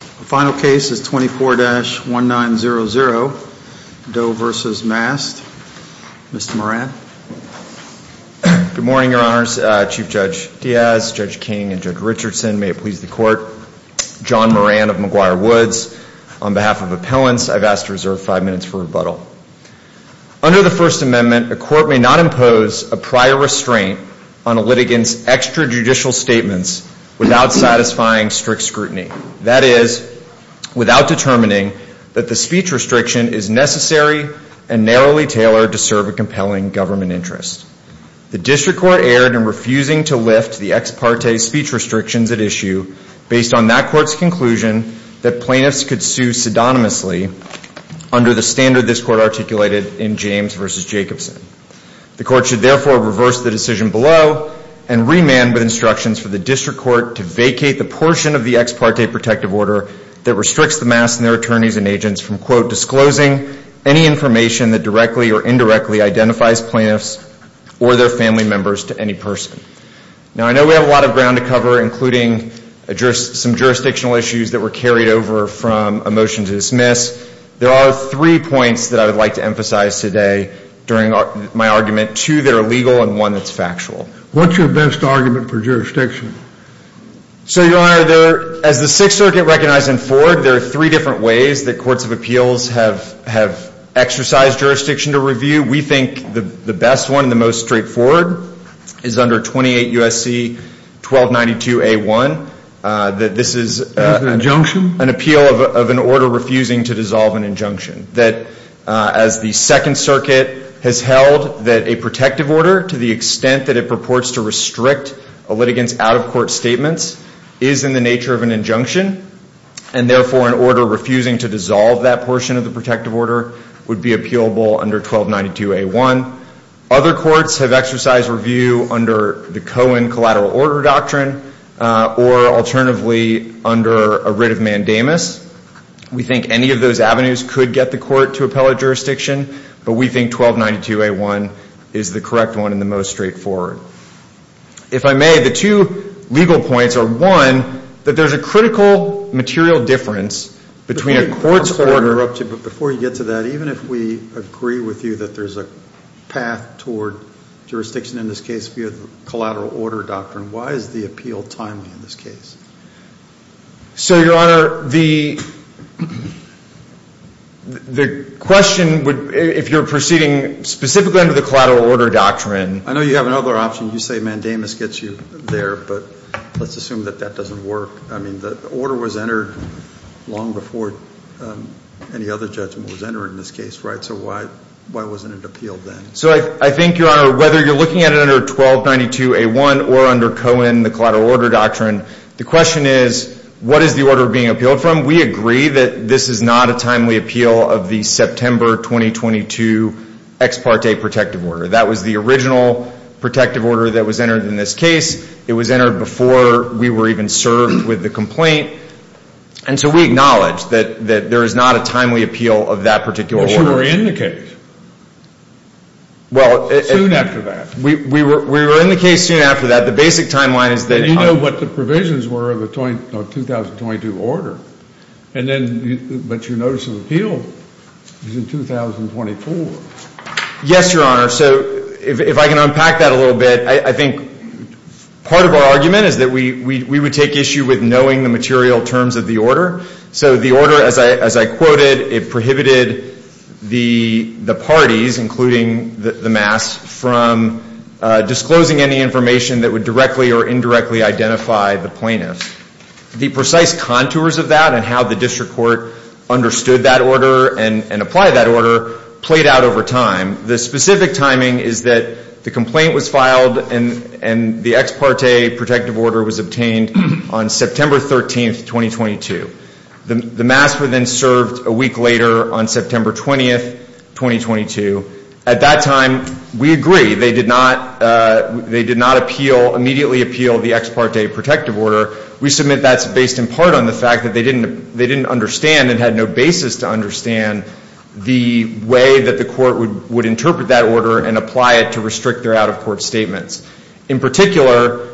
The final case is 24-1900, Doe v. Mast. Mr. Moran. Good morning, Your Honors. Chief Judge Diaz, Judge King, and Judge Richardson. May it please the Court. John Moran of McGuire Woods. On behalf of Appellants, I've asked to reserve five minutes for rebuttal. Under the First Amendment, a court may not impose a prior restraint on a litigant's extrajudicial statements without satisfying strict scrutiny. That is, without determining that the speech restriction is necessary and narrowly tailored to serve a compelling government interest. The District Court erred in refusing to lift the ex parte speech restrictions at issue based on that Court's conclusion that plaintiffs could sue pseudonymously under the standard this Court articulated in James v. Jacobson. The Court should therefore reverse the decision below and remand with instructions for the District Court to vacate the portion of the ex parte protective order that restricts the Mast and their attorneys and agents from, quote, disclosing any information that directly or indirectly identifies plaintiffs or their family members to any person. Now, I know we have a lot of ground to cover, including some jurisdictional issues that were carried over from a motion to dismiss. There are three points that I would like to emphasize today during my argument, two that are legal and one that's factual. What's your best argument for jurisdiction? So, Your Honor, as the Sixth Circuit recognized in Ford, there are three different ways that courts of appeals have exercised jurisdiction to review. We think the best one, the most straightforward, is under 28 U.S.C. 1292a1. This is an appeal of an order refusing to dissolve an injunction. As the Second Circuit has held that a protective order, to the extent that it purports to restrict a litigant's out-of-court statements, is in the nature of an injunction, and therefore an order refusing to dissolve that portion of the protective order would be appealable under 1292a1. Other courts have exercised review under the Cohen Collateral Order Doctrine or, alternatively, under a writ of mandamus. We think any of those avenues could get the court to appellate jurisdiction, but we think 1292a1 is the correct one and the most straightforward. If I may, the two legal points are, one, that there's a critical material difference between a court's order... I'm sorry to interrupt you, but before you get to that, even if we agree with you that there's a path toward jurisdiction in this case via the Collateral Order Doctrine, why is the appeal timely in this case? So, Your Honor, the question, if you're proceeding specifically under the Collateral Order Doctrine... I know you have another option. You say mandamus gets you there, but let's assume that that doesn't work. I mean, the order was entered long before any other judgment was entered in this case, right? So why wasn't it appealed then? So I think, Your Honor, whether you're looking at it under 1292a1 or under Cohen, the Collateral Order Doctrine, the question is, what is the order being appealed from? We agree that this is not a timely appeal of the September 2022 ex parte protective order. That was the original protective order that was entered in this case. It was entered before we were even served with the complaint. And so we acknowledge that there is not a timely appeal of that particular order. But you were in the case soon after that. We were in the case soon after that. The basic timeline is that... But you know what the provisions were of the 2022 order. But your notice of appeal is in 2024. Yes, Your Honor. So if I can unpack that a little bit, I think part of our argument is that we would take issue with knowing the material terms of the order. So the order, as I quoted, it prohibited the parties, including the mass, from disclosing any information that would directly or indirectly identify the plaintiff. The precise contours of that and how the district court understood that order and applied that order played out over time. The specific timing is that the complaint was filed and the ex parte protective order was obtained on September 13th, 2022. The mass were then served a week later on September 20th, 2022. At that time, we agree they did not appeal, immediately appeal the ex parte protective order. We submit that's based in part on the fact that they didn't understand and had no basis to understand the way that the court would interpret that order and apply it to restrict their out-of-court statements. In particular,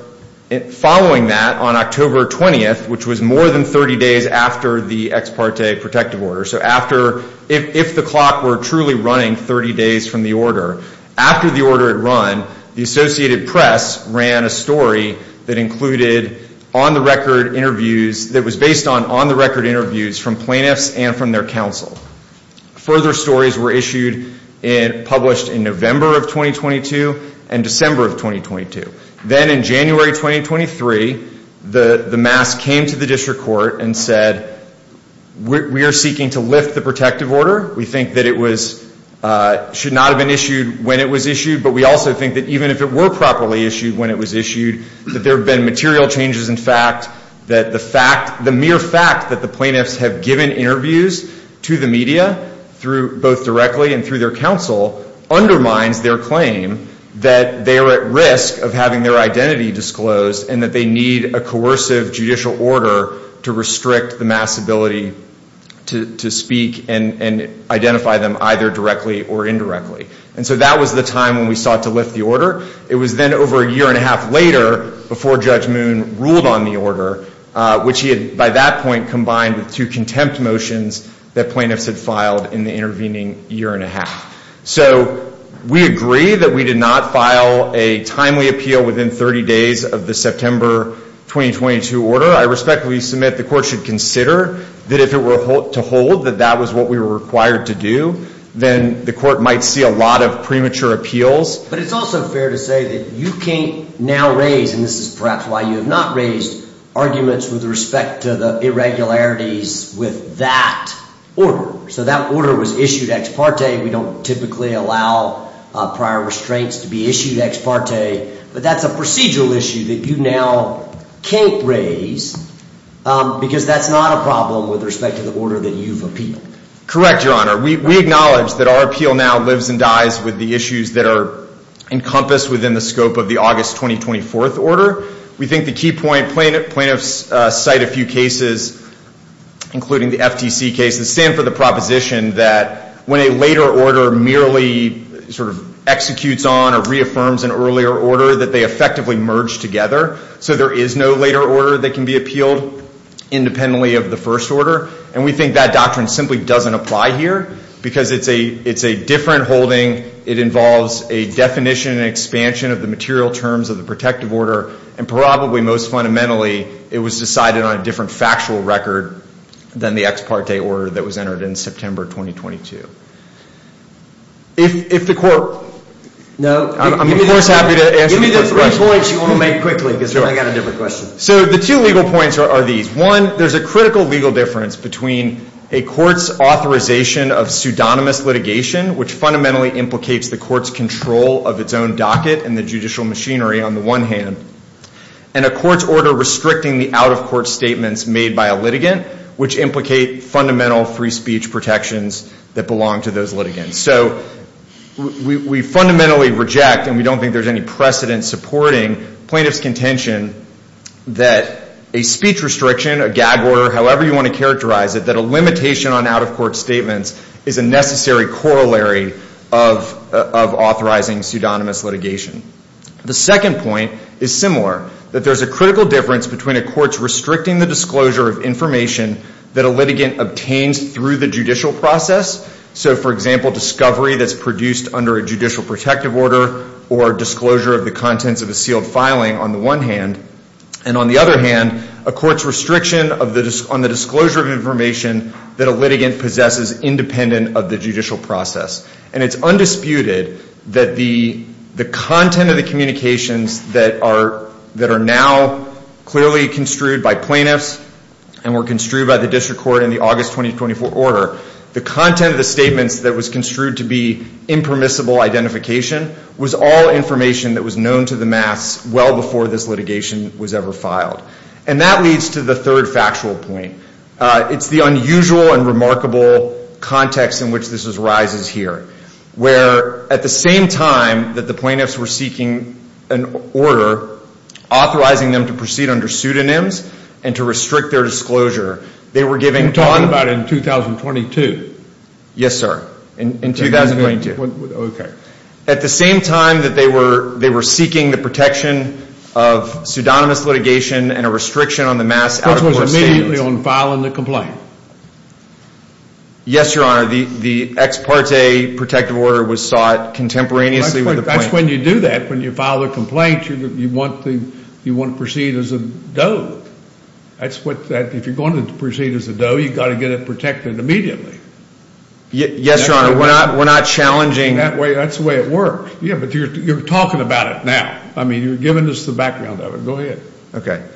following that, on October 20th, which was more than 30 days after the ex parte protective order, so after, if the clock were truly running 30 days from the order, after the order had run, the Associated Press ran a story that included on-the-record interviews, that was based on on-the-record interviews from plaintiffs and from their counsel. Further stories were issued and published in November of 2022 and December of 2022. Then in January 2023, the mass came to the district court and said, we are seeking to lift the protective order. We think that it should not have been issued when it was issued, but we also think that even if it were properly issued when it was issued, that there have been material changes in fact, that the mere fact that the plaintiffs have given interviews to the media, both directly and through their counsel, undermines their claim that they are at risk of having their identity disclosed and that they need a coercive judicial order to restrict the mass ability to speak and identify them either directly or indirectly. And so that was the time when we sought to lift the order. It was then over a year and a half later before Judge Moon ruled on the order, which he had by that point combined with two contempt motions that plaintiffs had filed in the intervening year and a half. So we agree that we did not file a timely appeal within 30 days of the September 2022 order. I respectfully submit the court should consider that if it were to hold that that was what we were required to do, then the court might see a lot of premature appeals. But it's also fair to say that you can't now raise, and this is perhaps why you have not raised, arguments with respect to the irregularities with that order. So that order was issued ex parte. We don't typically allow prior restraints to be issued ex parte, but that's a procedural issue that you now can't raise because that's not a problem with respect to the order that you've appealed. Correct, Your Honor. We acknowledge that our appeal now lives and dies with the issues that are encompassed within the scope of the August 2024 order. We think the key point, plaintiffs cite a few cases, including the FTC case, that stand for the proposition that when a later order merely sort of executes on or reaffirms an earlier order, that they effectively merge together. So there is no later order that can be appealed independently of the first order. And we think that doctrine simply doesn't apply here because it's a different holding. It involves a definition and expansion of the material terms of the protective order. And probably most fundamentally, it was decided on a different factual record than the ex parte order that was entered in September 2022. If the court— No. I'm of course happy to answer the question. Give me the three points you want to make quickly because then I've got a different question. So the two legal points are these. One, there's a critical legal difference between a court's authorization of pseudonymous litigation, which fundamentally implicates the court's control of its own docket and the judicial machinery on the one hand, and a court's order restricting the out-of-court statements made by a litigant, which implicate fundamental free speech protections that belong to those litigants. So we fundamentally reject, and we don't think there's any precedent supporting, plaintiff's contention that a speech restriction, a gag order, however you want to characterize it, that a limitation on out-of-court statements is a necessary corollary of authorizing pseudonymous litigation. The second point is similar, that there's a critical difference between a court's restricting the disclosure of information that a litigant obtains through the judicial process. So, for example, discovery that's produced under a judicial protective order or disclosure of the contents of a sealed filing on the one hand, and on the other hand, a court's restriction on the disclosure of information that a litigant possesses independent of the judicial process. And it's undisputed that the content of the communications that are now clearly construed by plaintiffs and were construed by the district court in the August 2024 order, the content of the statements that was construed to be impermissible identification, was all information that was known to the mass well before this litigation was ever filed. And that leads to the third factual point. It's the unusual and remarkable context in which this arises here, where at the same time that the plaintiffs were seeking an order authorizing them to proceed under pseudonyms and to restrict their disclosure, they were giving one. You're talking about in 2022. Yes, sir, in 2022. Okay. At the same time that they were seeking the protection of pseudonymous litigation and a restriction on the mass out-of-court statements. Which was immediately on filing the complaint. Yes, Your Honor. The ex parte protective order was sought contemporaneously with the plaintiff. That's when you do that. When you file a complaint, you want to proceed as a doe. That's what that, if you're going to proceed as a doe, you've got to get it protected immediately. Yes, Your Honor. We're not challenging. That's the way it works. Yeah, but you're talking about it now. I mean, you're giving us the background of it. Go ahead. Okay.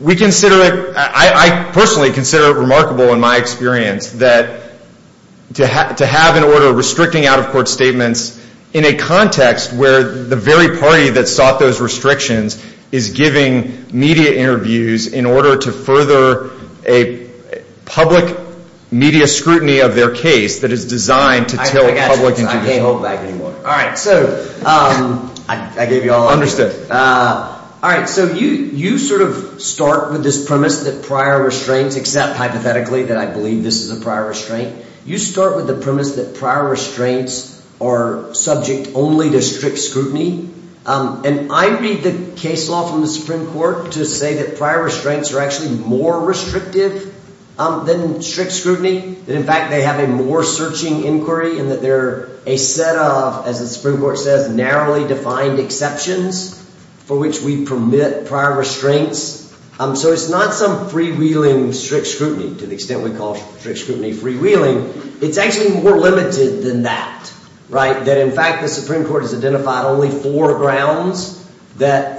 We consider it, I personally consider it remarkable in my experience, to have an order restricting out-of-court statements in a context where the very party that sought those restrictions is giving media interviews in order to further a public media scrutiny of their case that is designed to tell public information. I can't hold back anymore. All right. So I gave you all. Understood. All right. So you sort of start with this premise that prior restraints, except hypothetically that I believe this is a prior restraint, you start with the premise that prior restraints are subject only to strict scrutiny. And I read the case law from the Supreme Court to say that prior restraints are actually more restrictive than strict scrutiny, that in fact they have a more searching inquiry, and that they're a set of, as the Supreme Court says, narrowly defined exceptions for which we permit prior restraints. So it's not some freewheeling strict scrutiny to the extent we call strict scrutiny freewheeling. It's actually more limited than that, right? That in fact the Supreme Court has identified only four grounds that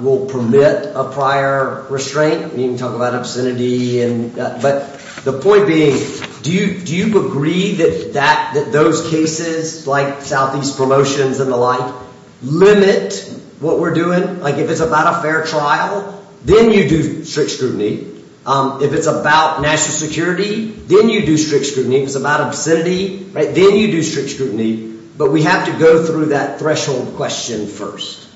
will permit a prior restraint. We can talk about obscenity, but the point being, do you agree that those cases like Southeast Promotions and the like limit what we're doing? Like if it's about a fair trial, then you do strict scrutiny. If it's about national security, then you do strict scrutiny. If it's about obscenity, then you do strict scrutiny. But we have to go through that threshold question first.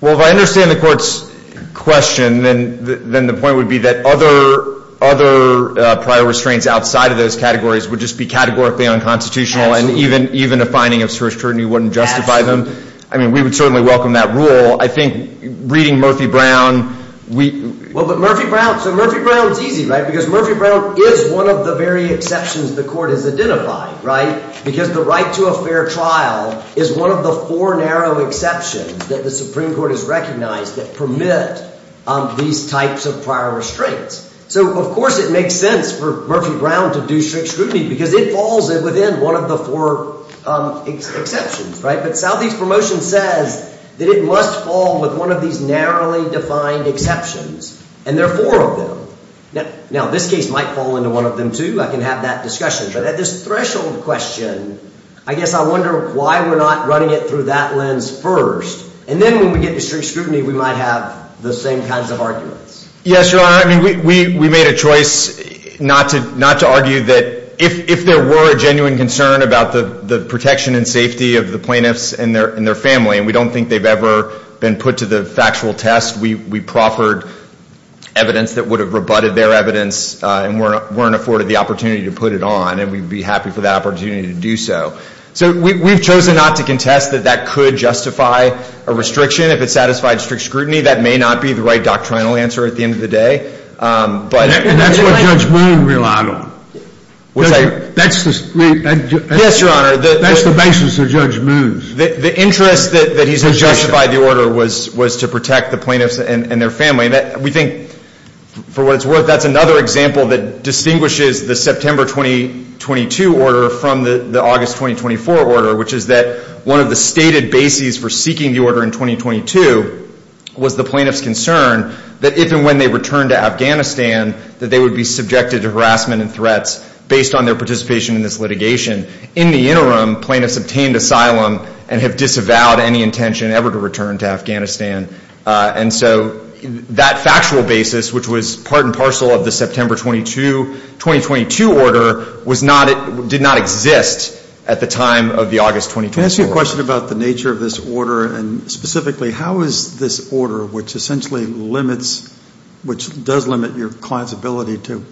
Well, if I understand the court's question, then the point would be that other prior restraints outside of those categories would just be categorically unconstitutional, and even a finding of strict scrutiny wouldn't justify them. I mean, we would certainly welcome that rule. I think reading Murphy-Brown, we— Well, but Murphy-Brown—so Murphy-Brown's easy, right? Because Murphy-Brown is one of the very exceptions the court has identified, right? Because the right to a fair trial is one of the four narrow exceptions that the Supreme Court has recognized that permit these types of prior restraints. So of course it makes sense for Murphy-Brown to do strict scrutiny because it falls within one of the four exceptions, right? But Southeast Promotion says that it must fall with one of these narrowly defined exceptions, and there are four of them. Now, this case might fall into one of them, too. I can have that discussion. But at this threshold question, I guess I wonder why we're not running it through that lens first. And then when we get to strict scrutiny, we might have the same kinds of arguments. Yes, Your Honor. I mean, we made a choice not to argue that if there were a genuine concern about the protection and safety of the plaintiffs and their family, and we don't think they've ever been put to the factual test. We proffered evidence that would have rebutted their evidence and weren't afforded the opportunity to put it on, and we'd be happy for that opportunity to do so. So we've chosen not to contest that that could justify a restriction. If it satisfied strict scrutiny, that may not be the right doctrinal answer at the end of the day. And that's what Judge Moon relied on. Yes, Your Honor. That's the basis of Judge Moon's. The interest that he's justified the order was to protect the plaintiffs and their family. We think, for what it's worth, that's another example that distinguishes the September 2022 order from the August 2024 order, which is that one of the stated bases for seeking the order in 2022 was the plaintiffs' concern that if and when they returned to Afghanistan, that they would be subjected to harassment and threats based on their participation in this litigation. In the interim, plaintiffs obtained asylum and have disavowed any intention ever to return to Afghanistan. And so that factual basis, which was part and parcel of the September 2022 order, did not exist at the time of the August 2024 order. Let me ask you a question about the nature of this order and specifically how is this order, which essentially limits, which does limit your client's ability to,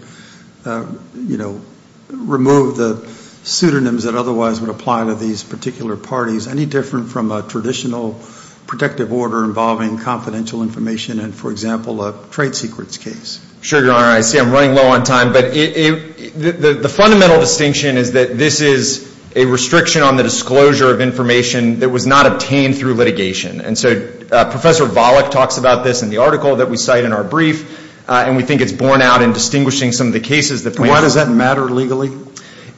you know, remove the pseudonyms that otherwise would apply to these particular parties, any different from a traditional protective order involving confidential information and, for example, a trade secrets case? Sure, Your Honor. I see I'm running low on time. The fundamental distinction is that this is a restriction on the disclosure of information that was not obtained through litigation. And so Professor Volokh talks about this in the article that we cite in our brief, and we think it's borne out in distinguishing some of the cases that plaintiffs— Why does that matter legally?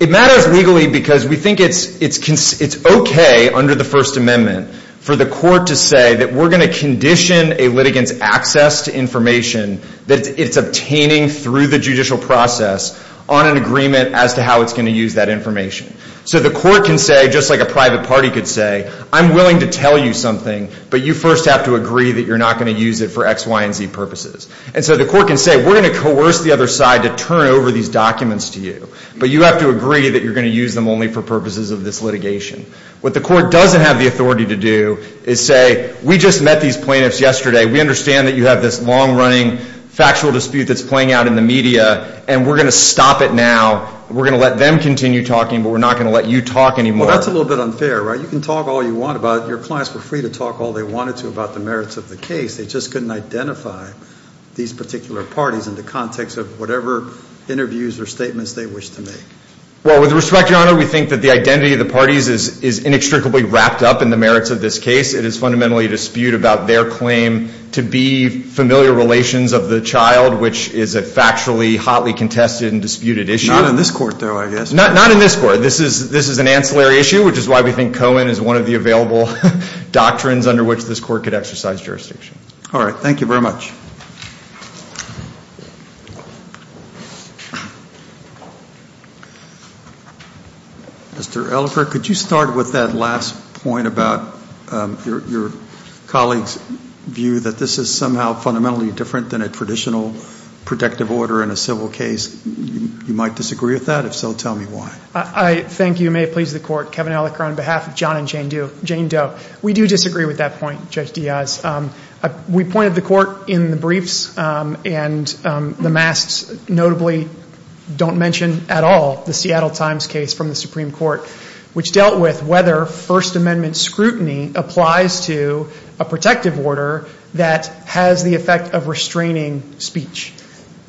It matters legally because we think it's okay under the First Amendment for the court to say that we're going to condition a litigant's access to information that it's obtaining through the judicial process on an agreement as to how it's going to use that information. So the court can say, just like a private party could say, I'm willing to tell you something, but you first have to agree that you're not going to use it for X, Y, and Z purposes. And so the court can say, we're going to coerce the other side to turn over these documents to you, but you have to agree that you're going to use them only for purposes of this litigation. What the court doesn't have the authority to do is say, we just met these plaintiffs yesterday. We understand that you have this long-running factual dispute that's playing out in the media, and we're going to stop it now. We're going to let them continue talking, but we're not going to let you talk anymore. Well, that's a little bit unfair, right? You can talk all you want about it. Your clients were free to talk all they wanted to about the merits of the case. They just couldn't identify these particular parties in the context of whatever interviews or statements they wished to make. Well, with respect, Your Honor, we think that the identity of the parties is inextricably wrapped up in the merits of this case. It is fundamentally a dispute about their claim to be familiar relations of the child, which is a factually hotly contested and disputed issue. Not in this court, though, I guess. Not in this court. This is an ancillary issue, which is why we think Cohen is one of the available doctrines under which this court could exercise jurisdiction. All right. Thank you very much. Mr. Ellicott, could you start with that last point about your colleague's view that this is somehow fundamentally different than a traditional protective order in a civil case? You might disagree with that. If so, tell me why. Thank you. May it please the Court. Kevin Ellicott on behalf of John and Jane Doe. We do disagree with that point, Judge Diaz. We pointed the court in the briefs, and the masks notably don't mention at all the Seattle Times case from the Supreme Court, which dealt with whether First Amendment scrutiny applies to a protective order that has the effect of restraining speech.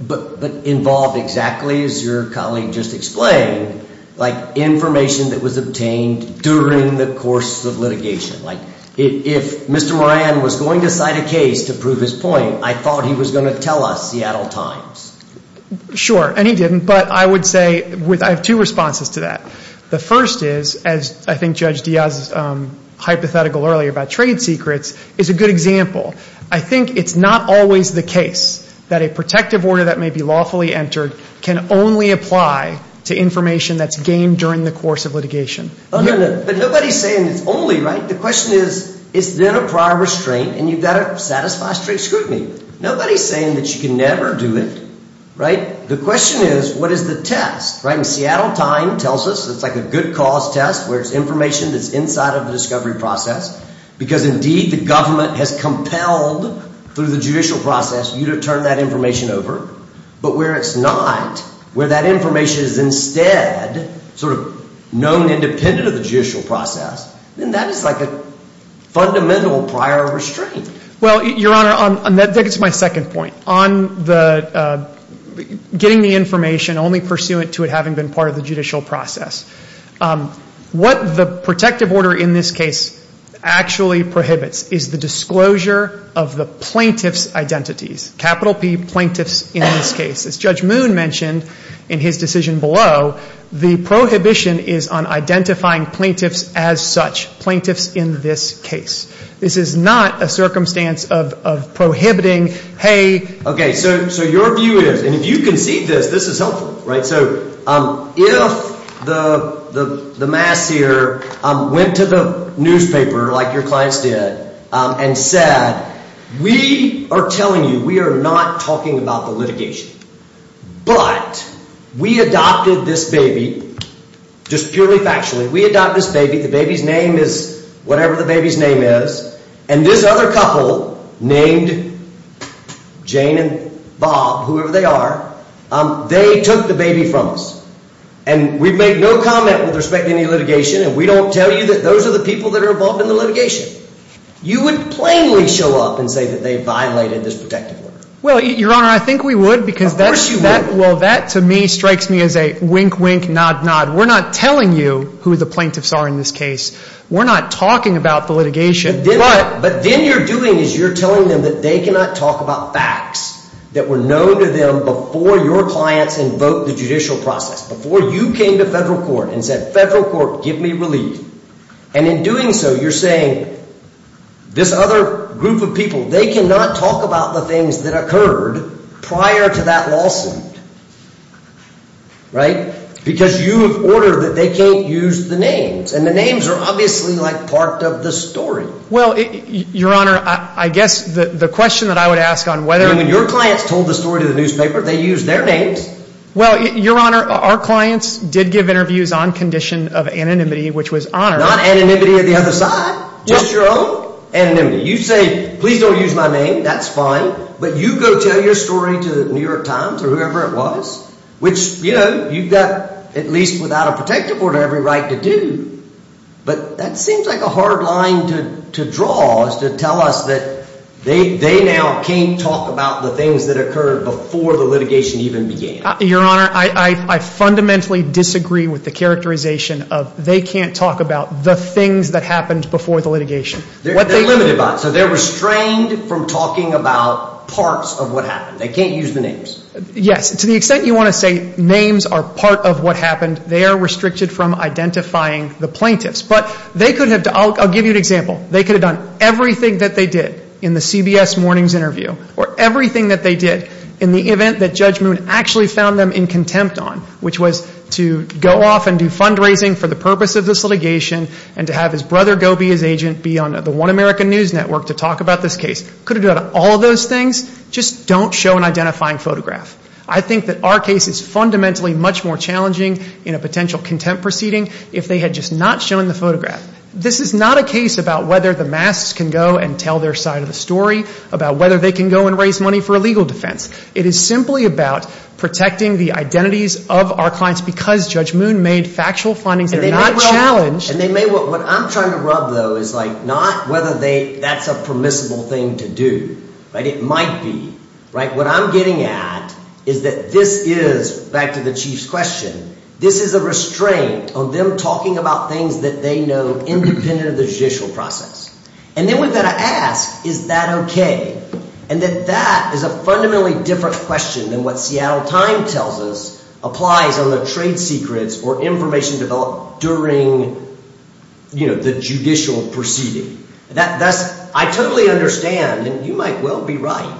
But involved exactly, as your colleague just explained, like information that was obtained during the course of litigation. Like if Mr. Moran was going to cite a case to prove his point, I thought he was going to tell us Seattle Times. Sure. And he didn't. But I would say I have two responses to that. The first is, as I think Judge Diaz hypothetical earlier about trade secrets, is a good example. I think it's not always the case that a protective order that may be lawfully entered can only apply to information that's gained during the course of litigation. But nobody's saying it's only, right? The question is, is there a prior restraint, and you've got to satisfy straight scrutiny. Nobody's saying that you can never do it, right? The question is, what is the test, right? And Seattle Times tells us it's like a good cause test, where it's information that's inside of the discovery process, because indeed the government has compelled, through the judicial process, you to turn that information over. But where it's not, where that information is instead sort of known independent of the judicial process, then that is like a fundamental prior restraint. Well, Your Honor, I think it's my second point. On the getting the information only pursuant to it having been part of the judicial process, what the protective order in this case actually prohibits is the disclosure of the plaintiff's identities, capital P, plaintiffs in this case. As Judge Moon mentioned in his decision below, the prohibition is on identifying plaintiffs as such, plaintiffs in this case. This is not a circumstance of prohibiting, hey. Okay, so your view is, and if you can see this, this is helpful, right? If the mass here went to the newspaper, like your clients did, and said, we are telling you, we are not talking about the litigation, but we adopted this baby, just purely factually, we adopted this baby, the baby's name is whatever the baby's name is, and this other couple named Jane and Bob, whoever they are, they took the baby from us. And we've made no comment with respect to any litigation, and we don't tell you that those are the people that are involved in the litigation. You would plainly show up and say that they violated this protective order. Well, Your Honor, I think we would because that to me strikes me as a wink, wink, nod, nod. We're not telling you who the plaintiffs are in this case. We're not talking about the litigation. But then you're doing is you're telling them that they cannot talk about facts that were known to them before your clients invoked the judicial process, before you came to federal court and said, federal court, give me relief. And in doing so, you're saying, this other group of people, they cannot talk about the things that occurred prior to that lawsuit, right? Because you have ordered that they can't use the names. And the names are obviously like part of the story. Well, Your Honor, I guess the question that I would ask on whether— I mean, when your clients told the story to the newspaper, they used their names. Well, Your Honor, our clients did give interviews on condition of anonymity, which was honored. Not anonymity of the other side, just your own anonymity. You say, please don't use my name, that's fine. But you go tell your story to the New York Times or whoever it was, which, you know, you've got at least without a protective order every right to do. But that seems like a hard line to draw is to tell us that they now can't talk about the things that occurred before the litigation even began. Your Honor, I fundamentally disagree with the characterization of they can't talk about the things that happened before the litigation. They're limited by it, so they're restrained from talking about parts of what happened. They can't use the names. Yes, to the extent you want to say names are part of what happened, they are restricted from identifying the plaintiffs. But they could have—I'll give you an example. They could have done everything that they did in the CBS Mornings interview or everything that they did in the event that Judge Moon actually found them in contempt on, which was to go off and do fundraising for the purpose of this litigation and to have his brother go be his agent, be on the One American News Network to talk about this case. Could have done all of those things. Just don't show an identifying photograph. I think that our case is fundamentally much more challenging in a potential contempt proceeding if they had just not shown the photograph. This is not a case about whether the masks can go and tell their side of the story, about whether they can go and raise money for a legal defense. It is simply about protecting the identities of our clients because Judge Moon made factual findings that are not challenged. What I'm trying to rub, though, is not whether that's a permissible thing to do. It might be. What I'm getting at is that this is, back to the Chief's question, this is a restraint on them talking about things that they know independent of the judicial process. And then we've got to ask, is that okay? And that that is a fundamentally different question than what Seattle Times tells us that relies on the trade secrets or information developed during the judicial proceeding. I totally understand, and you might well be right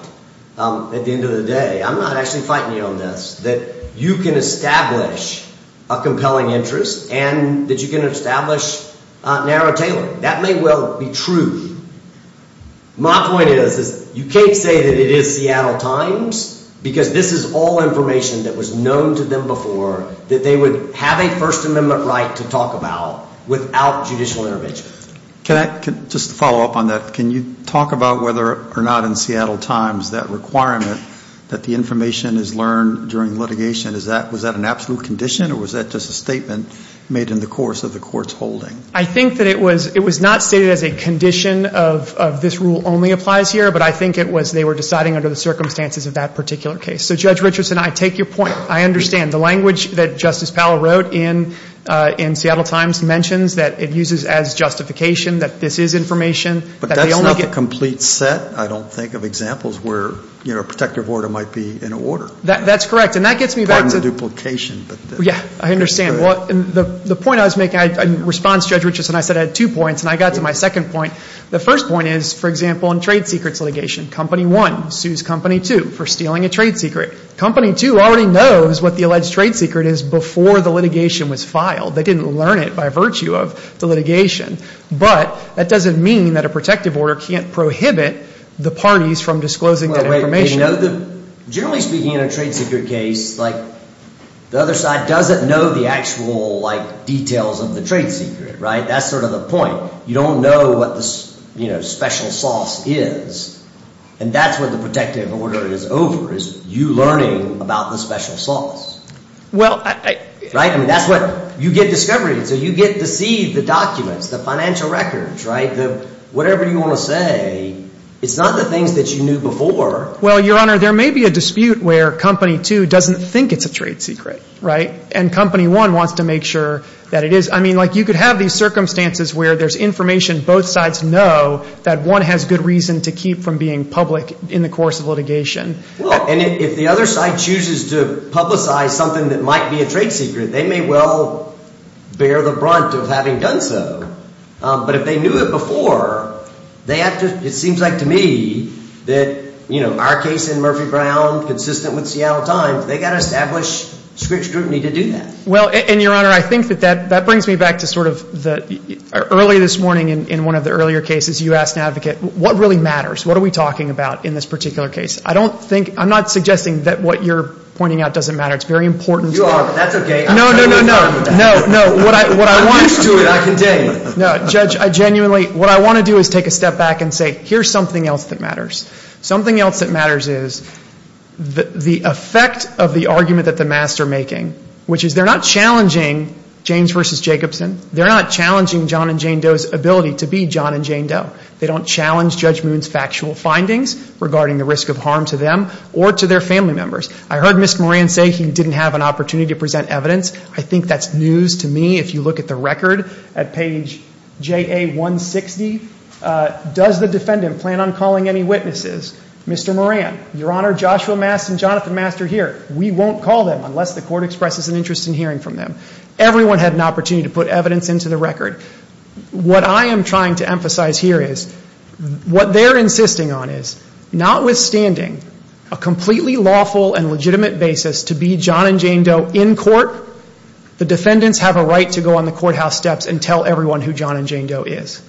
at the end of the day, I'm not actually fighting you on this, that you can establish a compelling interest and that you can establish narrow tailoring. That may well be true. My point is you can't say that it is Seattle Times because this is all information that was known to them before that they would have a First Amendment right to talk about without judicial intervention. Can I just follow up on that? Can you talk about whether or not in Seattle Times that requirement that the information is learned during litigation, was that an absolute condition or was that just a statement made in the course of the court's holding? I think that it was not stated as a condition of this rule only applies here, but I think it was they were deciding under the circumstances of that particular case. So Judge Richardson, I take your point. I understand. The language that Justice Powell wrote in Seattle Times mentions that it uses as justification that this is information. But that's not the complete set, I don't think, of examples where, you know, a protective order might be in order. That's correct. And that gets me back to the duplication. Yeah, I understand. The point I was making, in response to Judge Richardson, I said I had two points, and I got to my second point. The first point is, for example, in trade secrets litigation, Company 1 sues Company 2 for stealing a trade secret. Company 2 already knows what the alleged trade secret is before the litigation was filed. They didn't learn it by virtue of the litigation. But that doesn't mean that a protective order can't prohibit the parties from disclosing that information. Generally speaking, in a trade secret case, like, the other side doesn't know the actual, like, details of the trade secret, right? That's sort of the point. You don't know what the, you know, special sauce is. And that's where the protective order is over, is you learning about the special sauce. Well, I – Right? I mean, that's what – you get discovery, so you get to see the documents, the financial records, right? Whatever you want to say, it's not the things that you knew before. Well, Your Honor, there may be a dispute where Company 2 doesn't think it's a trade secret, right? And Company 1 wants to make sure that it is. I mean, like, you could have these circumstances where there's information both sides know that one has good reason to keep from being public in the course of litigation. Well, and if the other side chooses to publicize something that might be a trade secret, they may well bear the brunt of having done so. But if they knew it before, they have to – it seems like to me that, you know, our case in Murphy Brown, consistent with Seattle Times, they've got to establish strict scrutiny to do that. Well, and, Your Honor, I think that that brings me back to sort of the – early this morning in one of the earlier cases, you asked an advocate, what really matters? What are we talking about in this particular case? I don't think – I'm not suggesting that what you're pointing out doesn't matter. It's very important to – You are, but that's okay. No, no, no, no. No, no. What I want – I'm used to it. I can tell you. No, Judge, I genuinely – what I want to do is take a step back and say, here's something else that matters. Something else that matters is the effect of the argument that the masks are making, which is they're not challenging James v. Jacobson. They're not challenging John and Jane Doe's ability to be John and Jane Doe. They don't challenge Judge Moon's factual findings regarding the risk of harm to them or to their family members. I heard Mr. Moran say he didn't have an opportunity to present evidence. I think that's news to me if you look at the record at page JA160. Does the defendant plan on calling any witnesses? Mr. Moran, Your Honor, Joshua Mast and Jonathan Mast are here. We won't call them unless the court expresses an interest in hearing from them. Everyone had an opportunity to put evidence into the record. What I am trying to emphasize here is what they're insisting on is, notwithstanding a completely lawful and legitimate basis to be John and Jane Doe in court, the defendants have a right to go on the courthouse steps and tell everyone who John and Jane Doe is.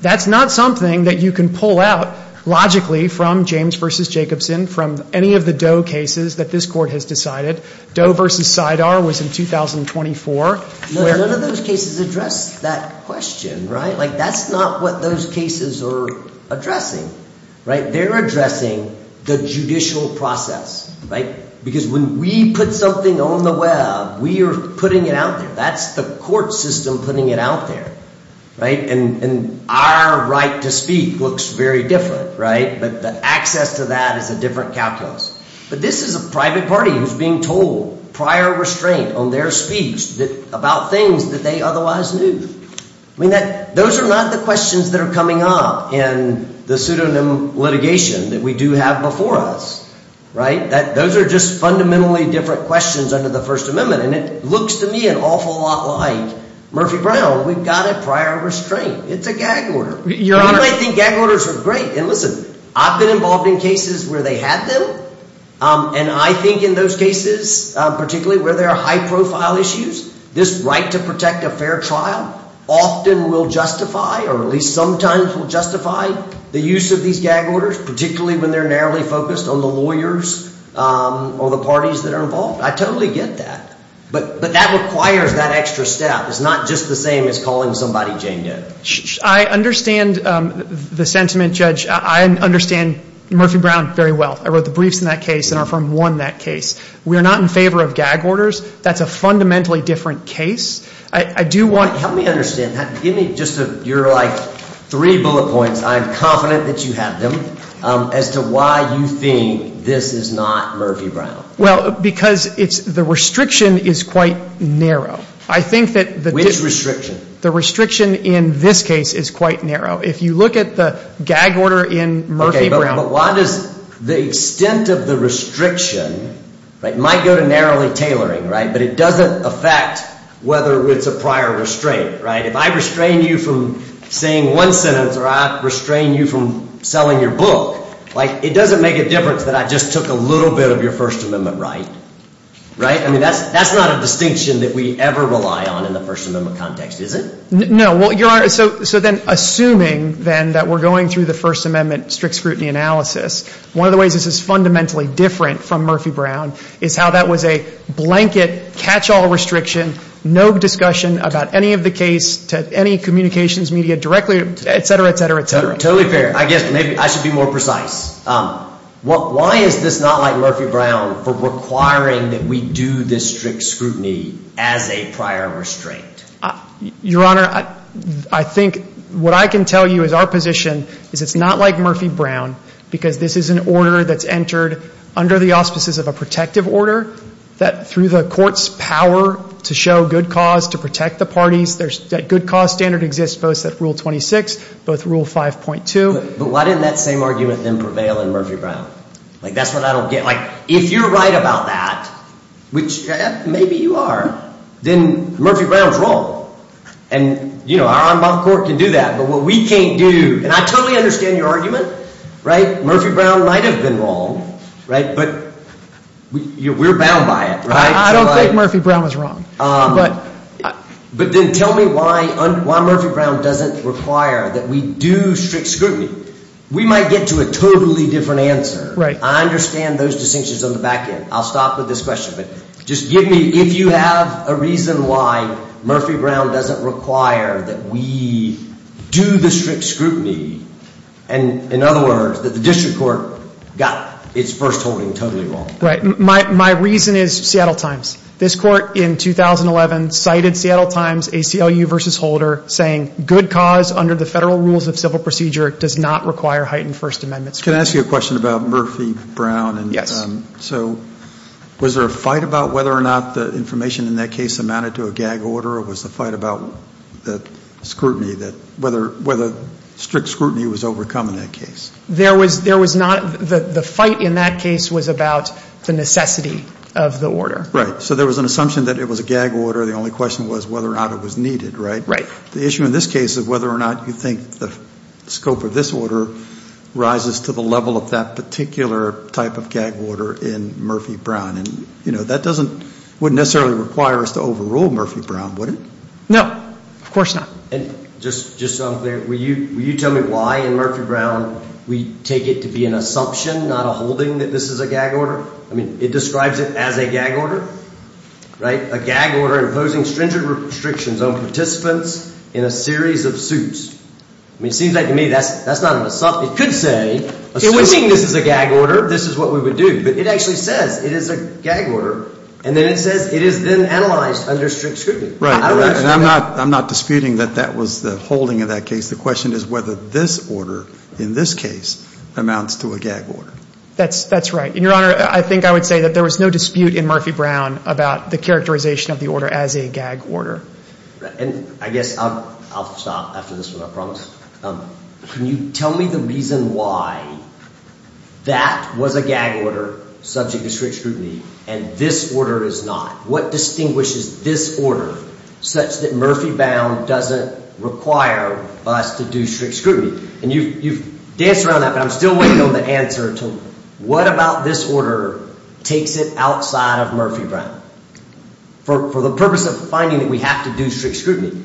That's not something that you can pull out logically from James v. Jacobson, from any of the Doe cases that this court has decided. Doe v. SIDAR was in 2024. None of those cases address that question. That's not what those cases are addressing. They're addressing the judicial process. Because when we put something on the web, we are putting it out there. That's the court system putting it out there. And our right to speak looks very different. But the access to that is a different calculus. But this is a private party who's being told prior restraint on their speech about things that they otherwise knew. Those are not the questions that are coming up in the pseudonym litigation that we do have before us. Those are just fundamentally different questions under the First Amendment. And it looks to me an awful lot like Murphy Brown. We've got a prior restraint. It's a gag order. You might think gag orders are great. And listen, I've been involved in cases where they had them. And I think in those cases, particularly where there are high-profile issues, this right to protect a fair trial often will justify or at least sometimes will justify the use of these gag orders, particularly when they're narrowly focused on the lawyers or the parties that are involved. I totally get that. But that requires that extra step. It's not just the same as calling somebody Jane Doe. I understand the sentiment, Judge. I understand Murphy Brown very well. I wrote the briefs in that case, and our firm won that case. We are not in favor of gag orders. That's a fundamentally different case. I do want to – Help me understand that. Give me just your, like, three bullet points. I'm confident that you have them as to why you think this is not Murphy Brown. Well, because it's – the restriction is quite narrow. I think that the – Which restriction? The restriction in this case is quite narrow. If you look at the gag order in Murphy Brown – Okay, but why does – the extent of the restriction, right, might go to narrowly tailoring, right, but it doesn't affect whether it's a prior restraint, right? If I restrain you from saying one sentence or I restrain you from selling your book, like, it doesn't make a difference that I just took a little bit of your First Amendment right, right? I mean, that's not a distinction that we ever rely on in the First Amendment context, is it? No. Well, Your Honor, so then assuming, then, that we're going through the First Amendment strict scrutiny analysis, one of the ways this is fundamentally different from Murphy Brown is how that was a blanket catch-all restriction, no discussion about any of the case to any communications media directly, et cetera, et cetera, et cetera. Totally fair. I guess maybe I should be more precise. Why is this not like Murphy Brown for requiring that we do this strict scrutiny as a prior restraint? Your Honor, I think what I can tell you is our position is it's not like Murphy Brown because this is an order that's entered under the auspices of a protective order that, through the court's power to show good cause, to protect the parties, that good cause standard exists both at Rule 26, both Rule 5.2. But why didn't that same argument, then, prevail in Murphy Brown? Like, that's what I don't get. Like, if you're right about that, which maybe you are, then Murphy Brown's wrong. And, you know, our en bas court can do that. But what we can't do, and I totally understand your argument, right? Murphy Brown might have been wrong, right? But we're bound by it, right? I don't think Murphy Brown was wrong. But then tell me why Murphy Brown doesn't require that we do strict scrutiny. We might get to a totally different answer. Right. I understand those distinctions on the back end. I'll stop with this question, but just give me, if you have a reason why Murphy Brown doesn't require that we do the strict scrutiny, and, in other words, that the district court got its first holding totally wrong. Right. My reason is Seattle Times. This court in 2011 cited Seattle Times, ACLU v. Holder, saying, good cause under the federal rules of civil procedure does not require heightened First Amendment scrutiny. Can I ask you a question about Murphy Brown? Yes. So was there a fight about whether or not the information in that case amounted to a gag order, or was the fight about the scrutiny, whether strict scrutiny was overcome in that case? There was not. The fight in that case was about the necessity of the order. Right. So there was an assumption that it was a gag order. The only question was whether or not it was needed, right? Right. The issue in this case is whether or not you think the scope of this order rises to the level of that particular type of gag order in Murphy Brown. And, you know, that doesn't necessarily require us to overrule Murphy Brown, would it? No. Of course not. And just so I'm clear, will you tell me why in Murphy Brown we take it to be an assumption, not a holding, that this is a gag order? I mean, it describes it as a gag order, right? A gag order imposing stringent restrictions on participants in a series of suits. I mean, it seems like to me that's not an assumption. It could say, assuming this is a gag order, this is what we would do. But it actually says it is a gag order, and then it says it is then analyzed under strict scrutiny. Right. And I'm not disputing that that was the holding of that case. The question is whether this order in this case amounts to a gag order. That's right. And, Your Honor, I think I would say that there was no dispute in Murphy Brown about the characterization of the order as a gag order. And I guess I'll stop after this one, I promise. Can you tell me the reason why that was a gag order subject to strict scrutiny and this order is not? What distinguishes this order such that Murphy Brown doesn't require us to do strict scrutiny? And you've danced around that, but I'm still waiting on the answer to what about this order takes it outside of Murphy Brown? For the purpose of finding that we have to do strict scrutiny,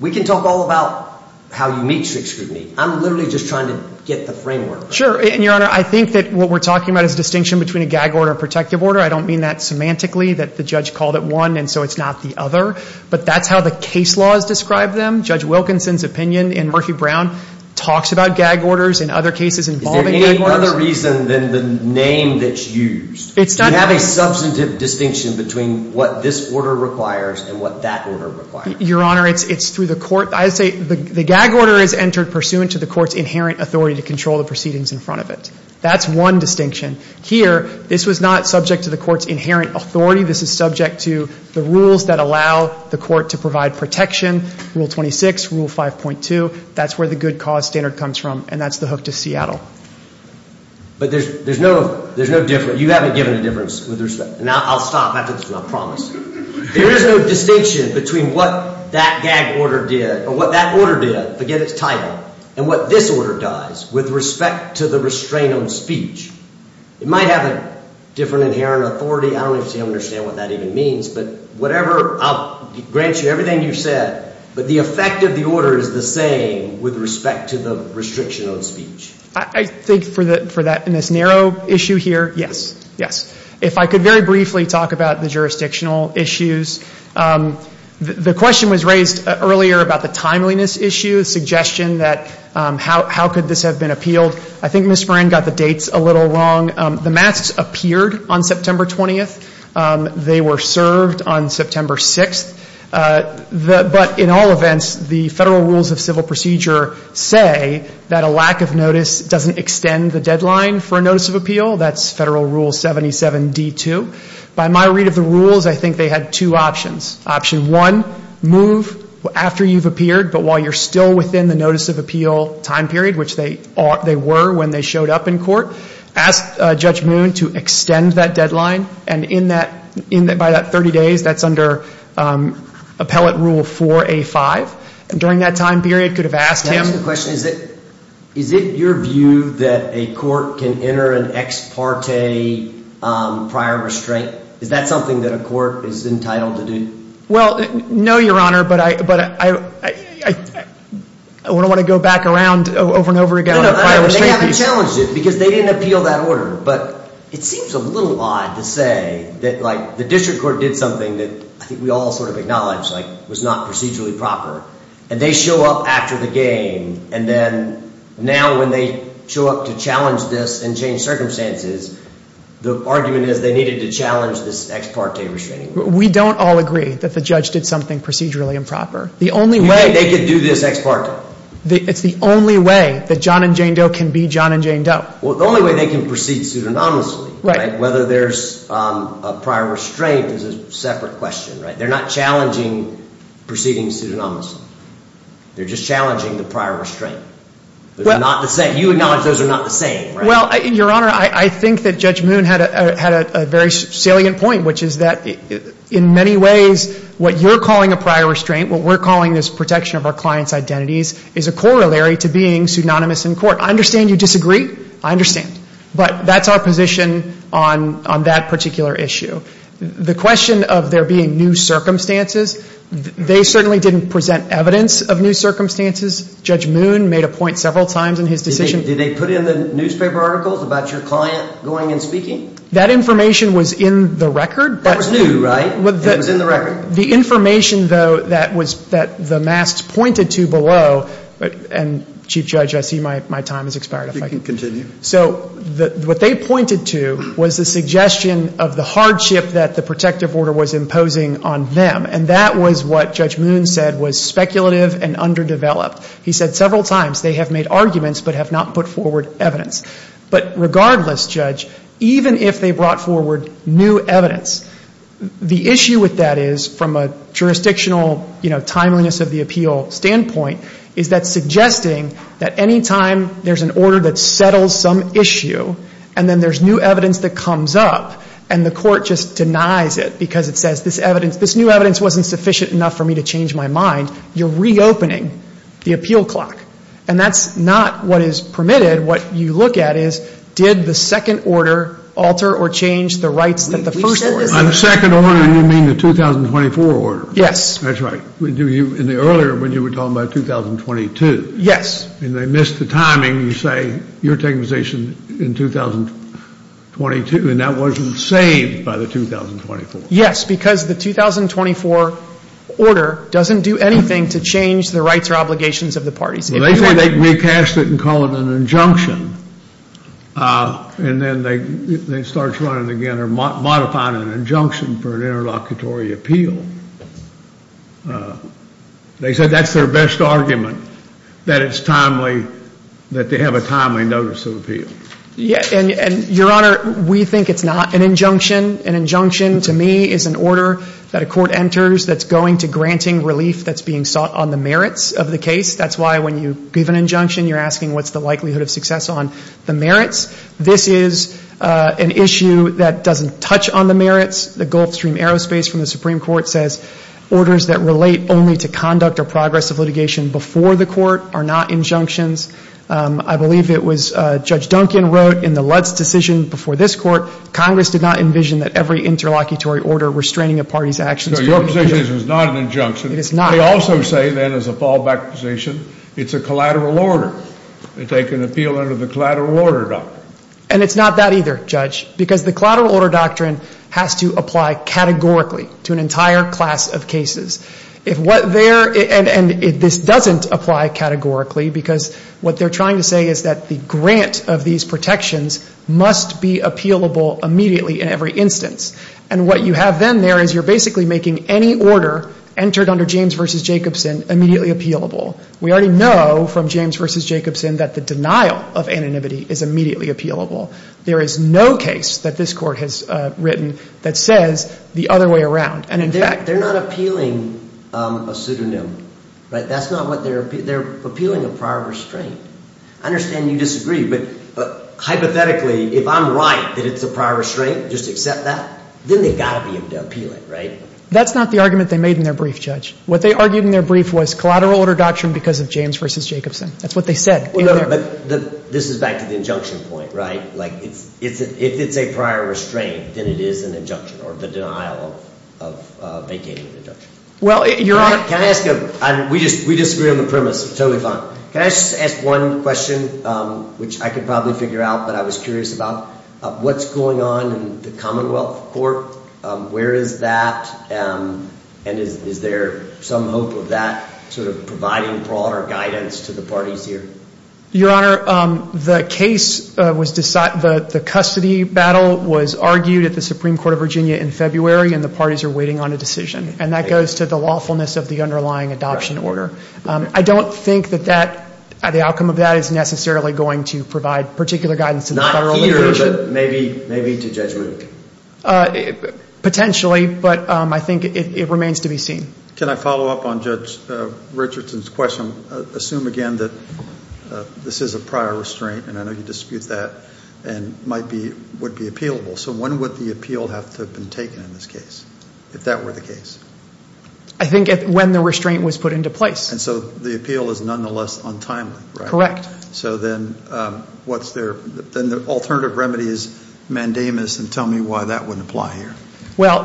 we can talk all about how you meet strict scrutiny. I'm literally just trying to get the framework. Sure. And, Your Honor, I think that what we're talking about is a distinction between a gag order and a protective order. I don't mean that semantically, that the judge called it one and so it's not the other. But that's how the case laws describe them. Judge Wilkinson's opinion in Murphy Brown talks about gag orders and other cases involving gag orders. Is there any other reason than the name that's used to have a substantive distinction between what this order requires and what that order requires? Your Honor, it's through the court. I would say the gag order is entered pursuant to the court's inherent authority to control the proceedings in front of it. That's one distinction. Here, this was not subject to the court's inherent authority. This is subject to the rules that allow the court to provide protection. Rule 26, Rule 5.2, that's where the good cause standard comes from, and that's the hook to Seattle. But there's no difference. You haven't given a difference with respect. And I'll stop after this one, I promise. There is no distinction between what that gag order did or what that order did, forget its title, and what this order does with respect to the restraint on speech. It might have a different inherent authority. I don't understand what that even means. But whatever, I'll grant you everything you've said, but the effect of the order is the same with respect to the restriction on speech. I think for that, in this narrow issue here, yes, yes. If I could very briefly talk about the jurisdictional issues. The question was raised earlier about the timeliness issue, the suggestion that how could this have been appealed. I think Ms. Moran got the dates a little wrong. The masks appeared on September 20th. They were served on September 6th. But in all events, the Federal Rules of Civil Procedure say that a lack of notice doesn't extend the deadline for a notice of appeal. That's Federal Rule 77D2. By my read of the rules, I think they had two options. Option one, move after you've appeared, but while you're still within the notice of appeal time period, which they were when they showed up in court, ask Judge Moon to extend that deadline and by that 30 days, that's under Appellate Rule 4A5. During that time period, could have asked him. Can I ask a question? Is it your view that a court can enter an ex parte prior restraint? Is that something that a court is entitled to do? Well, no, Your Honor, but I don't want to go back around over and over again on prior restraint. They haven't challenged it because they didn't appeal that order. But it seems a little odd to say that the district court did something that I think we all sort of acknowledge was not procedurally proper. And they show up after the game and then now when they show up to challenge this and change circumstances, the argument is they needed to challenge this ex parte restraining order. We don't all agree that the judge did something procedurally improper. The only way they could do this ex parte. It's the only way that John and Jane Doe can be John and Jane Doe. The only way they can proceed pseudonymously, whether there's a prior restraint is a separate question. They're not challenging proceeding pseudonymously. They're just challenging the prior restraint. They're not the same. You acknowledge those are not the same. Well, Your Honor, I think that Judge Moon had a very salient point, which is that in many ways, what you're calling a prior restraint, what we're calling this protection of our client's identities, is a corollary to being pseudonymous in court. I understand you disagree. I understand. But that's our position on that particular issue. The question of there being new circumstances, they certainly didn't present evidence of new circumstances. Judge Moon made a point several times in his decision. Did they put in the newspaper articles about your client going and speaking? That information was in the record. That was new, right? It was in the record. The information, though, that the masks pointed to below, and Chief Judge, I see my time has expired. You can continue. So what they pointed to was the suggestion of the hardship that the protective order was imposing on them, and that was what Judge Moon said was speculative and underdeveloped. He said several times they have made arguments but have not put forward evidence. But regardless, Judge, even if they brought forward new evidence, the issue with that is from a jurisdictional, you know, timeliness of the appeal standpoint, is that suggesting that any time there's an order that settles some issue and then there's new evidence that comes up and the court just denies it because it says this evidence, this new evidence wasn't sufficient enough for me to change my mind, you're reopening the appeal clock. And that's not what is permitted. What you look at is did the second order alter or change the rights that the first order. On the second order, you mean the 2024 order? Yes. That's right. In the earlier one, you were talking about 2022. Yes. And they missed the timing. You say you're taking position in 2022, and that wasn't saved by the 2024. Yes, because the 2024 order doesn't do anything to change the rights or obligations of the parties. They recast it and call it an injunction, and then they start trying again or modifying an injunction for an interlocutory appeal. They said that's their best argument, that it's timely, that they have a timely notice of appeal. Your Honor, we think it's not an injunction. An injunction, to me, is an order that a court enters that's going to granting relief that's being sought on the merits of the case. That's why when you give an injunction, you're asking what's the likelihood of success on the merits. This is an issue that doesn't touch on the merits. The Gulfstream Aerospace from the Supreme Court says orders that relate only to conduct or progress of litigation before the court are not injunctions. I believe it was Judge Duncan wrote in the Lutz decision before this court, Congress did not envision that every interlocutory order restraining a party's actions. So your position is it's not an injunction. It is not. They also say, then, as a fallback position, it's a collateral order. They take an appeal under the collateral order doctrine. And it's not that either, Judge, because the collateral order doctrine has to apply categorically to an entire class of cases. And this doesn't apply categorically because what they're trying to say is that the grant of these protections must be appealable immediately in every instance. And what you have then there is you're basically making any order entered under James v. Jacobson immediately appealable. We already know from James v. Jacobson that the denial of anonymity is immediately appealable. There is no case that this court has written that says the other way around. They're not appealing a pseudonym. That's not what they're appealing. They're appealing a prior restraint. I understand you disagree, but hypothetically, if I'm right that it's a prior restraint, just accept that, then they've got to be able to appeal it, right? That's not the argument they made in their brief, Judge. What they argued in their brief was collateral order doctrine because of James v. Jacobson. That's what they said. This is back to the injunction point, right? If it's a prior restraint, then it is an injunction or the denial of vacating an injunction. Can I ask a question? We disagree on the premise. Totally fine. Can I just ask one question, which I could probably figure out but I was curious about? What's going on in the Commonwealth Court? Where is that? And is there some hope of that sort of providing broader guidance to the parties here? Your Honor, the case was decided, the custody battle was argued at the Supreme Court of Virginia in February, and the parties are waiting on a decision, and that goes to the lawfulness of the underlying adoption order. I don't think that the outcome of that is necessarily going to provide particular guidance. Not here, but maybe to Judge Luke. Potentially, but I think it remains to be seen. Can I follow up on Judge Richardson's question? Assume again that this is a prior restraint, and I know you dispute that, and might be, would be appealable. So when would the appeal have to have been taken in this case, if that were the case? I think when the restraint was put into place. And so the appeal is nonetheless untimely, right? Correct. So then what's their, then the alternative remedy is mandamus, and tell me why that wouldn't apply here. Well,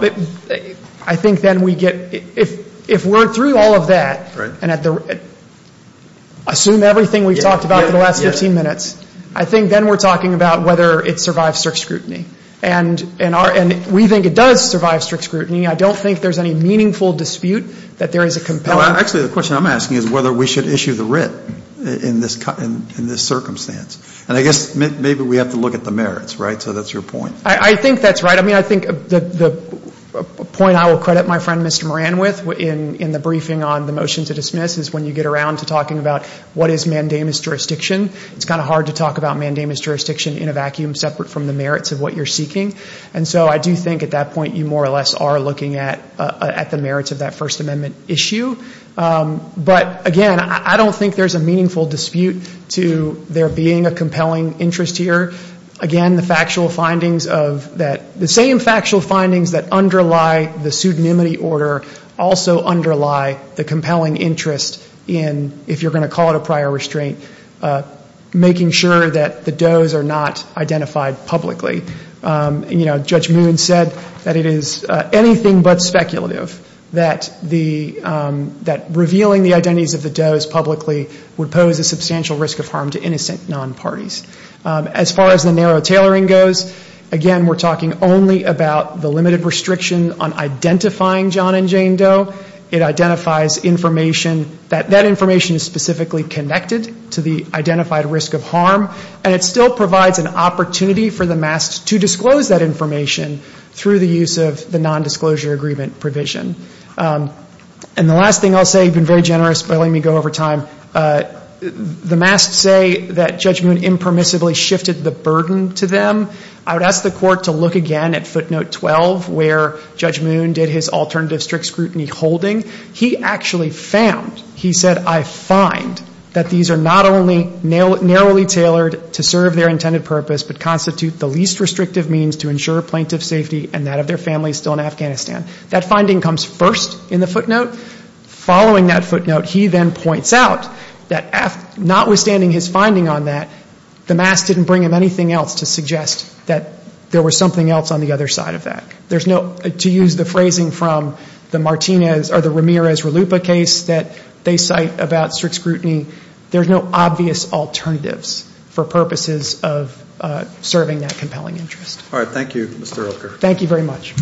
I think then we get, if we're through all of that, and at the, assume everything we've talked about for the last 15 minutes, I think then we're talking about whether it survives strict scrutiny. And we think it does survive strict scrutiny. I don't think there's any meaningful dispute that there is a compelling. Actually, the question I'm asking is whether we should issue the writ in this circumstance. And I guess maybe we have to look at the merits, right? So that's your point. I think that's right. I mean, I think the point I will credit my friend Mr. Moran with in the briefing on the motion to dismiss is when you get around to talking about what is mandamus jurisdiction, it's kind of hard to talk about mandamus jurisdiction in a vacuum separate from the merits of what you're seeking. And so I do think at that point you more or less are looking at the merits of that First Amendment issue. But again, I don't think there's a meaningful dispute to there being a compelling interest here. Again, the factual findings of that, the same factual findings that underlie the pseudonymity order also underlie the compelling interest in, if you're going to call it a prior restraint, making sure that the does are not identified publicly. And, you know, Judge Moon said that it is anything but speculative that the, that revealing the identities of the does publicly would pose a substantial risk of harm to innocent non-parties. As far as the narrow tailoring goes, again, we're talking only about the limited restriction on identifying John and Jane Doe. It identifies information that that information is specifically connected to the identified risk of harm. And it still provides an opportunity for the mast to disclose that information through the use of the nondisclosure agreement provision. And the last thing I'll say, you've been very generous by letting me go over time, the mast say that Judge Moon impermissibly shifted the burden to them. I would ask the Court to look again at footnote 12 where Judge Moon did his alternative strict scrutiny holding. He actually found, he said, I find that these are not only narrowly tailored to serve their intended purpose, but constitute the least restrictive means to ensure plaintiff's safety and that of their families still in Afghanistan. That finding comes first in the footnote. Following that footnote, he then points out that notwithstanding his finding on that, the mast didn't bring him anything else to suggest that there was something else on the other side of that. There's no, to use the phrasing from the Martinez or the Ramirez-Ralupa case that they cite about strict scrutiny, there's no obvious alternatives for purposes of serving that compelling interest. All right. Thank you, Mr. Elker. Thank you very much.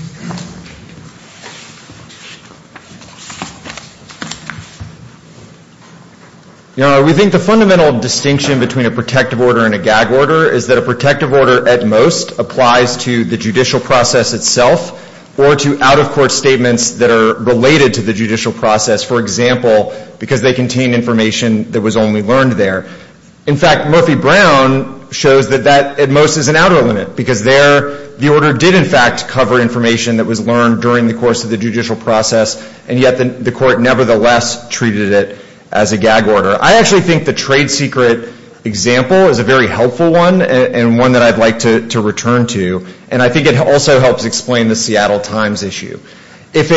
We think the fundamental distinction between a protective order and a gag order is that a protective order at most applies to the judicial process itself, or to out-of-court statements that are related to the judicial process. For example, because they contain information that was only learned there. In fact, Murphy Brown shows that that at most is an outer limit, because there the order did in fact cover information that was learned during the course of the judicial process, and yet the court nevertheless treated it as a gag order. I actually think the trade secret example is a very helpful one and one that I'd like to return to, and I think it also helps explain the Seattle Times issue. If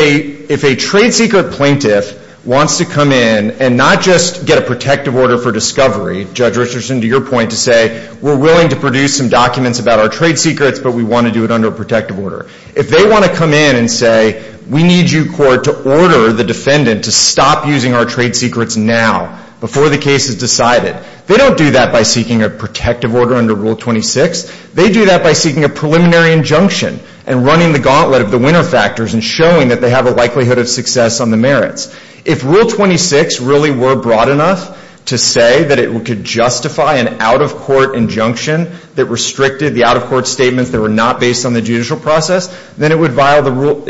a trade secret plaintiff wants to come in and not just get a protective order for discovery, Judge Richardson, to your point, to say, we're willing to produce some documents about our trade secrets, but we want to do it under a protective order. If they want to come in and say, we need you, court, to order the defendant to stop using our trade secrets now, before the case is decided, they don't do that by seeking a protective order under Rule 26. They do that by seeking a preliminary injunction and running the gauntlet of the winner factors and showing that they have a likelihood of success on the merits. If Rule 26 really were broad enough to say that it could justify an out-of-court injunction that restricted the out-of-court statements that were not based on the judicial process, then it would violate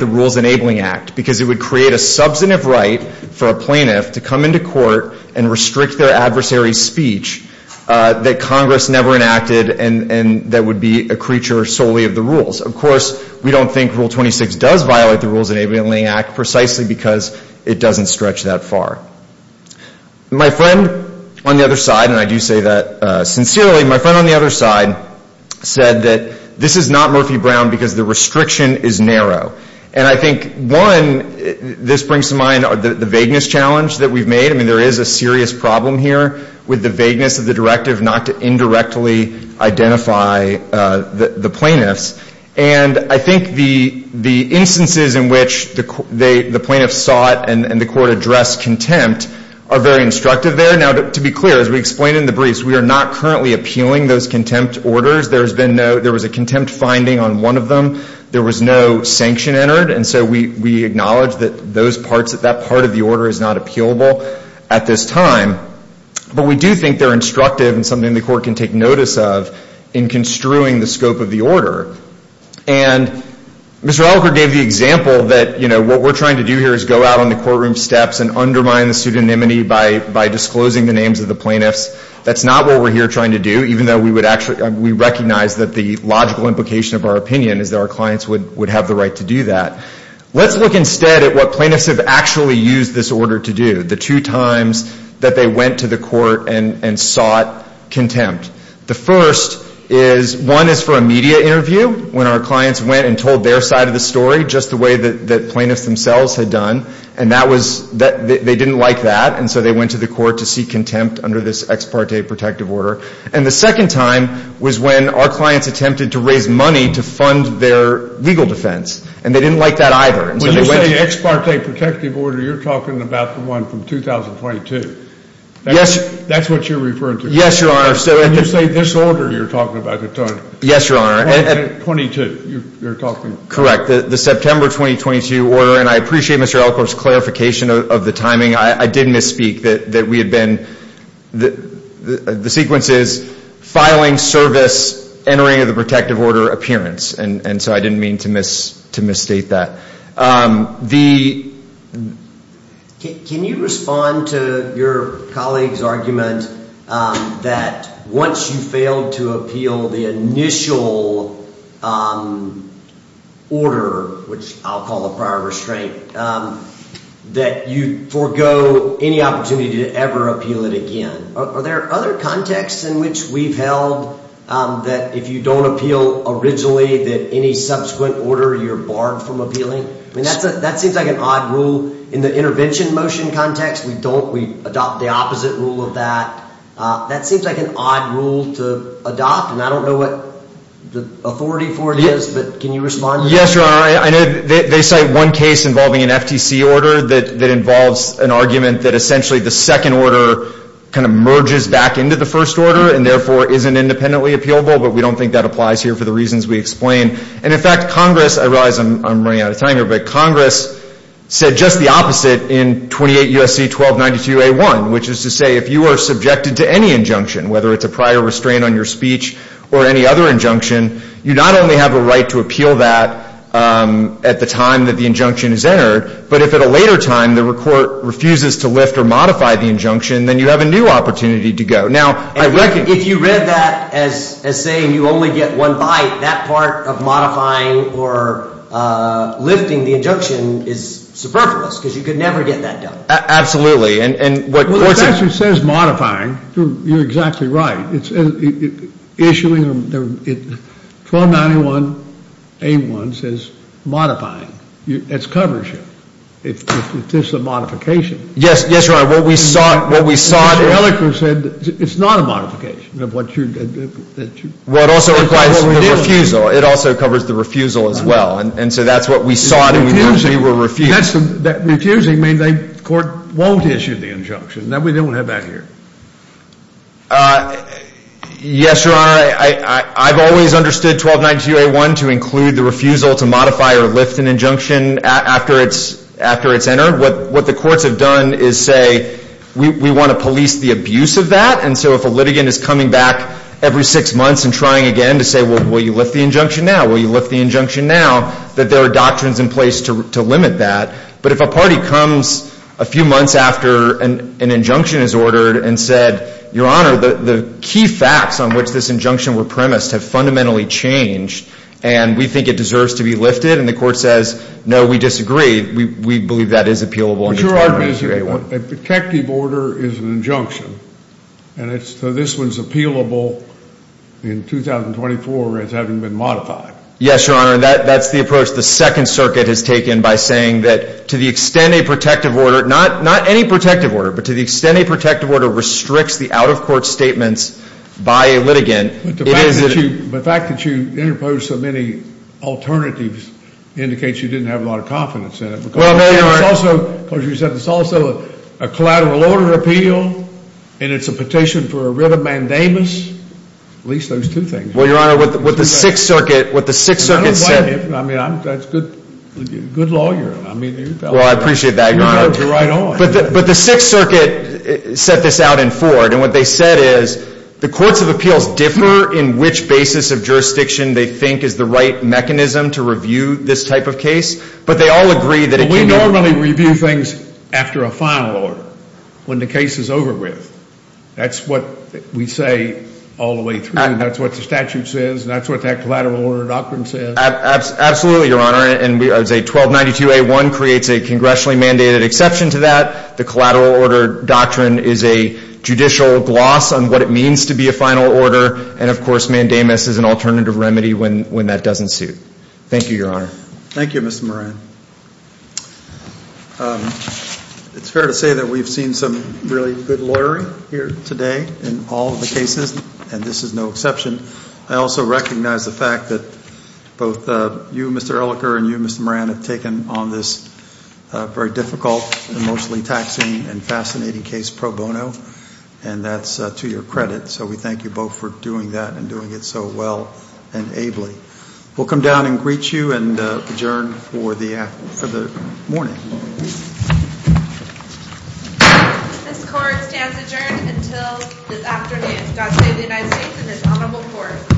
the Rules Enabling Act because it would create a substantive right for a plaintiff to come into court and restrict their adversary's speech that Congress never enacted and that would be a creature solely of the rules. Of course, we don't think Rule 26 does violate the Rules Enabling Act precisely because it doesn't stretch that far. My friend on the other side, and I do say that sincerely, my friend on the other side, said that this is not Murphy-Brown because the restriction is narrow. And I think, one, this brings to mind the vagueness challenge that we've made. I mean, there is a serious problem here with the vagueness of the directive not to indirectly identify the plaintiffs. And I think the instances in which the plaintiffs sought and the court addressed contempt are very instructive there. Now, to be clear, as we explained in the briefs, we are not currently appealing those contempt orders. There was a contempt finding on one of them. There was no sanction entered, and so we acknowledge that that part of the order is not appealable at this time. But we do think they're instructive and something the court can take notice of in construing the scope of the order. And Mr. Alker gave the example that, you know, what we're trying to do here is go out on the courtroom steps and undermine the pseudonymity by disclosing the names of the plaintiffs. That's not what we're here trying to do, even though we recognize that the logical implication of our opinion is that our clients would have the right to do that. Let's look instead at what plaintiffs have actually used this order to do, the two times that they went to the court and sought contempt. The first is one is for a media interview, when our clients went and told their side of the story, just the way that plaintiffs themselves had done. And that was they didn't like that, and so they went to the court to seek contempt under this ex parte protective order. And the second time was when our clients attempted to raise money to fund their legal defense, and they didn't like that either, and so they went. When you say ex parte protective order, you're talking about the one from 2022. Yes. That's what you're referring to. Yes, Your Honor. And you say this order you're talking about. Yes, Your Honor. 22, you're talking. Correct. The September 2022 order, and I appreciate Mr. Alker's clarification of the timing. I did misspeak that we had been, the sequence is filing, service, entering of the protective order, appearance. And so I didn't mean to misstate that. Can you respond to your colleague's argument that once you fail to appeal the initial order, which I'll call a prior restraint, that you forgo any opportunity to ever appeal it again? Are there other contexts in which we've held that if you don't appeal originally that any subsequent order, you're barred from appealing? I mean, that seems like an odd rule. In the intervention motion context, we don't. We adopt the opposite rule of that. That seems like an odd rule to adopt, and I don't know what the authority for it is, but can you respond to that? Yes, Your Honor. I know they cite one case involving an FTC order that involves an argument that essentially the second order kind of merges back into the first order and therefore isn't independently appealable, but we don't think that applies here for the reasons we explained. And, in fact, Congress, I realize I'm running out of time here, but Congress said just the opposite in 28 U.S.C. 1292a1, which is to say if you are subjected to any injunction, whether it's a prior restraint on your speech or any other injunction, you not only have a right to appeal that at the time that the injunction is entered, but if at a later time the court refuses to lift or modify the injunction, then you have a new opportunity to go. Now, I reckon — If you read that as saying you only get one bite, that part of modifying or lifting the injunction is superfluous because you could never get that done. Absolutely. Well, it actually says modifying. You're exactly right. It's issuing — 1291a1 says modifying. It covers you. It's just a modification. Yes, Your Honor. What we sought — Mr. Ehrlichman said it's not a modification of what you — Well, it also requires the refusal. It also covers the refusal as well. And so that's what we sought and we were refused. Refusing means the court won't issue the injunction. We don't have that here. Yes, Your Honor. I've always understood 1292a1 to include the refusal to modify or lift an injunction after it's entered. What the courts have done is say we want to police the abuse of that. And so if a litigant is coming back every six months and trying again to say, well, will you lift the injunction now? that there are doctrines in place to limit that. But if a party comes a few months after an injunction is ordered and said, Your Honor, the key facts on which this injunction were premised have fundamentally changed and we think it deserves to be lifted, and the court says, no, we disagree, we believe that is appealable under 1292a1. A protective order is an injunction. And so this one is appealable in 2024 as having been modified. Yes, Your Honor. That's the approach the Second Circuit has taken by saying that to the extent a protective order, not any protective order, but to the extent a protective order restricts the out-of-court statements by a litigant. But the fact that you interposed so many alternatives indicates you didn't have a lot of confidence in it. Well, Mayor, it's also, as you said, it's also a collateral order appeal and it's a petition for a writ of mandamus. At least those two things. Well, Your Honor, what the Sixth Circuit, what the Sixth Circuit said. I mean, that's good law you're on. Well, I appreciate that, Your Honor. You're right on. But the Sixth Circuit set this out in Ford. And what they said is the courts of appeals differ in which basis of jurisdiction they think is the right mechanism to review this type of case. But they all agree that it can be. Well, we normally review things after a final order, when the case is over with. That's what we say all the way through. That's what the statute says. That's what that collateral order doctrine says. Absolutely, Your Honor. And I would say 1292A1 creates a congressionally mandated exception to that. The collateral order doctrine is a judicial gloss on what it means to be a final order. And, of course, mandamus is an alternative remedy when that doesn't suit. Thank you, Your Honor. Thank you, Mr. Moran. It's fair to say that we've seen some really good lawyering here today in all the cases, and this is no exception. I also recognize the fact that both you, Mr. Elicker, and you, Mr. Moran, have taken on this very difficult, emotionally taxing, and fascinating case pro bono. And that's to your credit. So we thank you both for doing that and doing it so well and ably. We'll come down and greet you and adjourn for the morning. This court stands adjourned until this afternoon. God save the United States and this honorable court.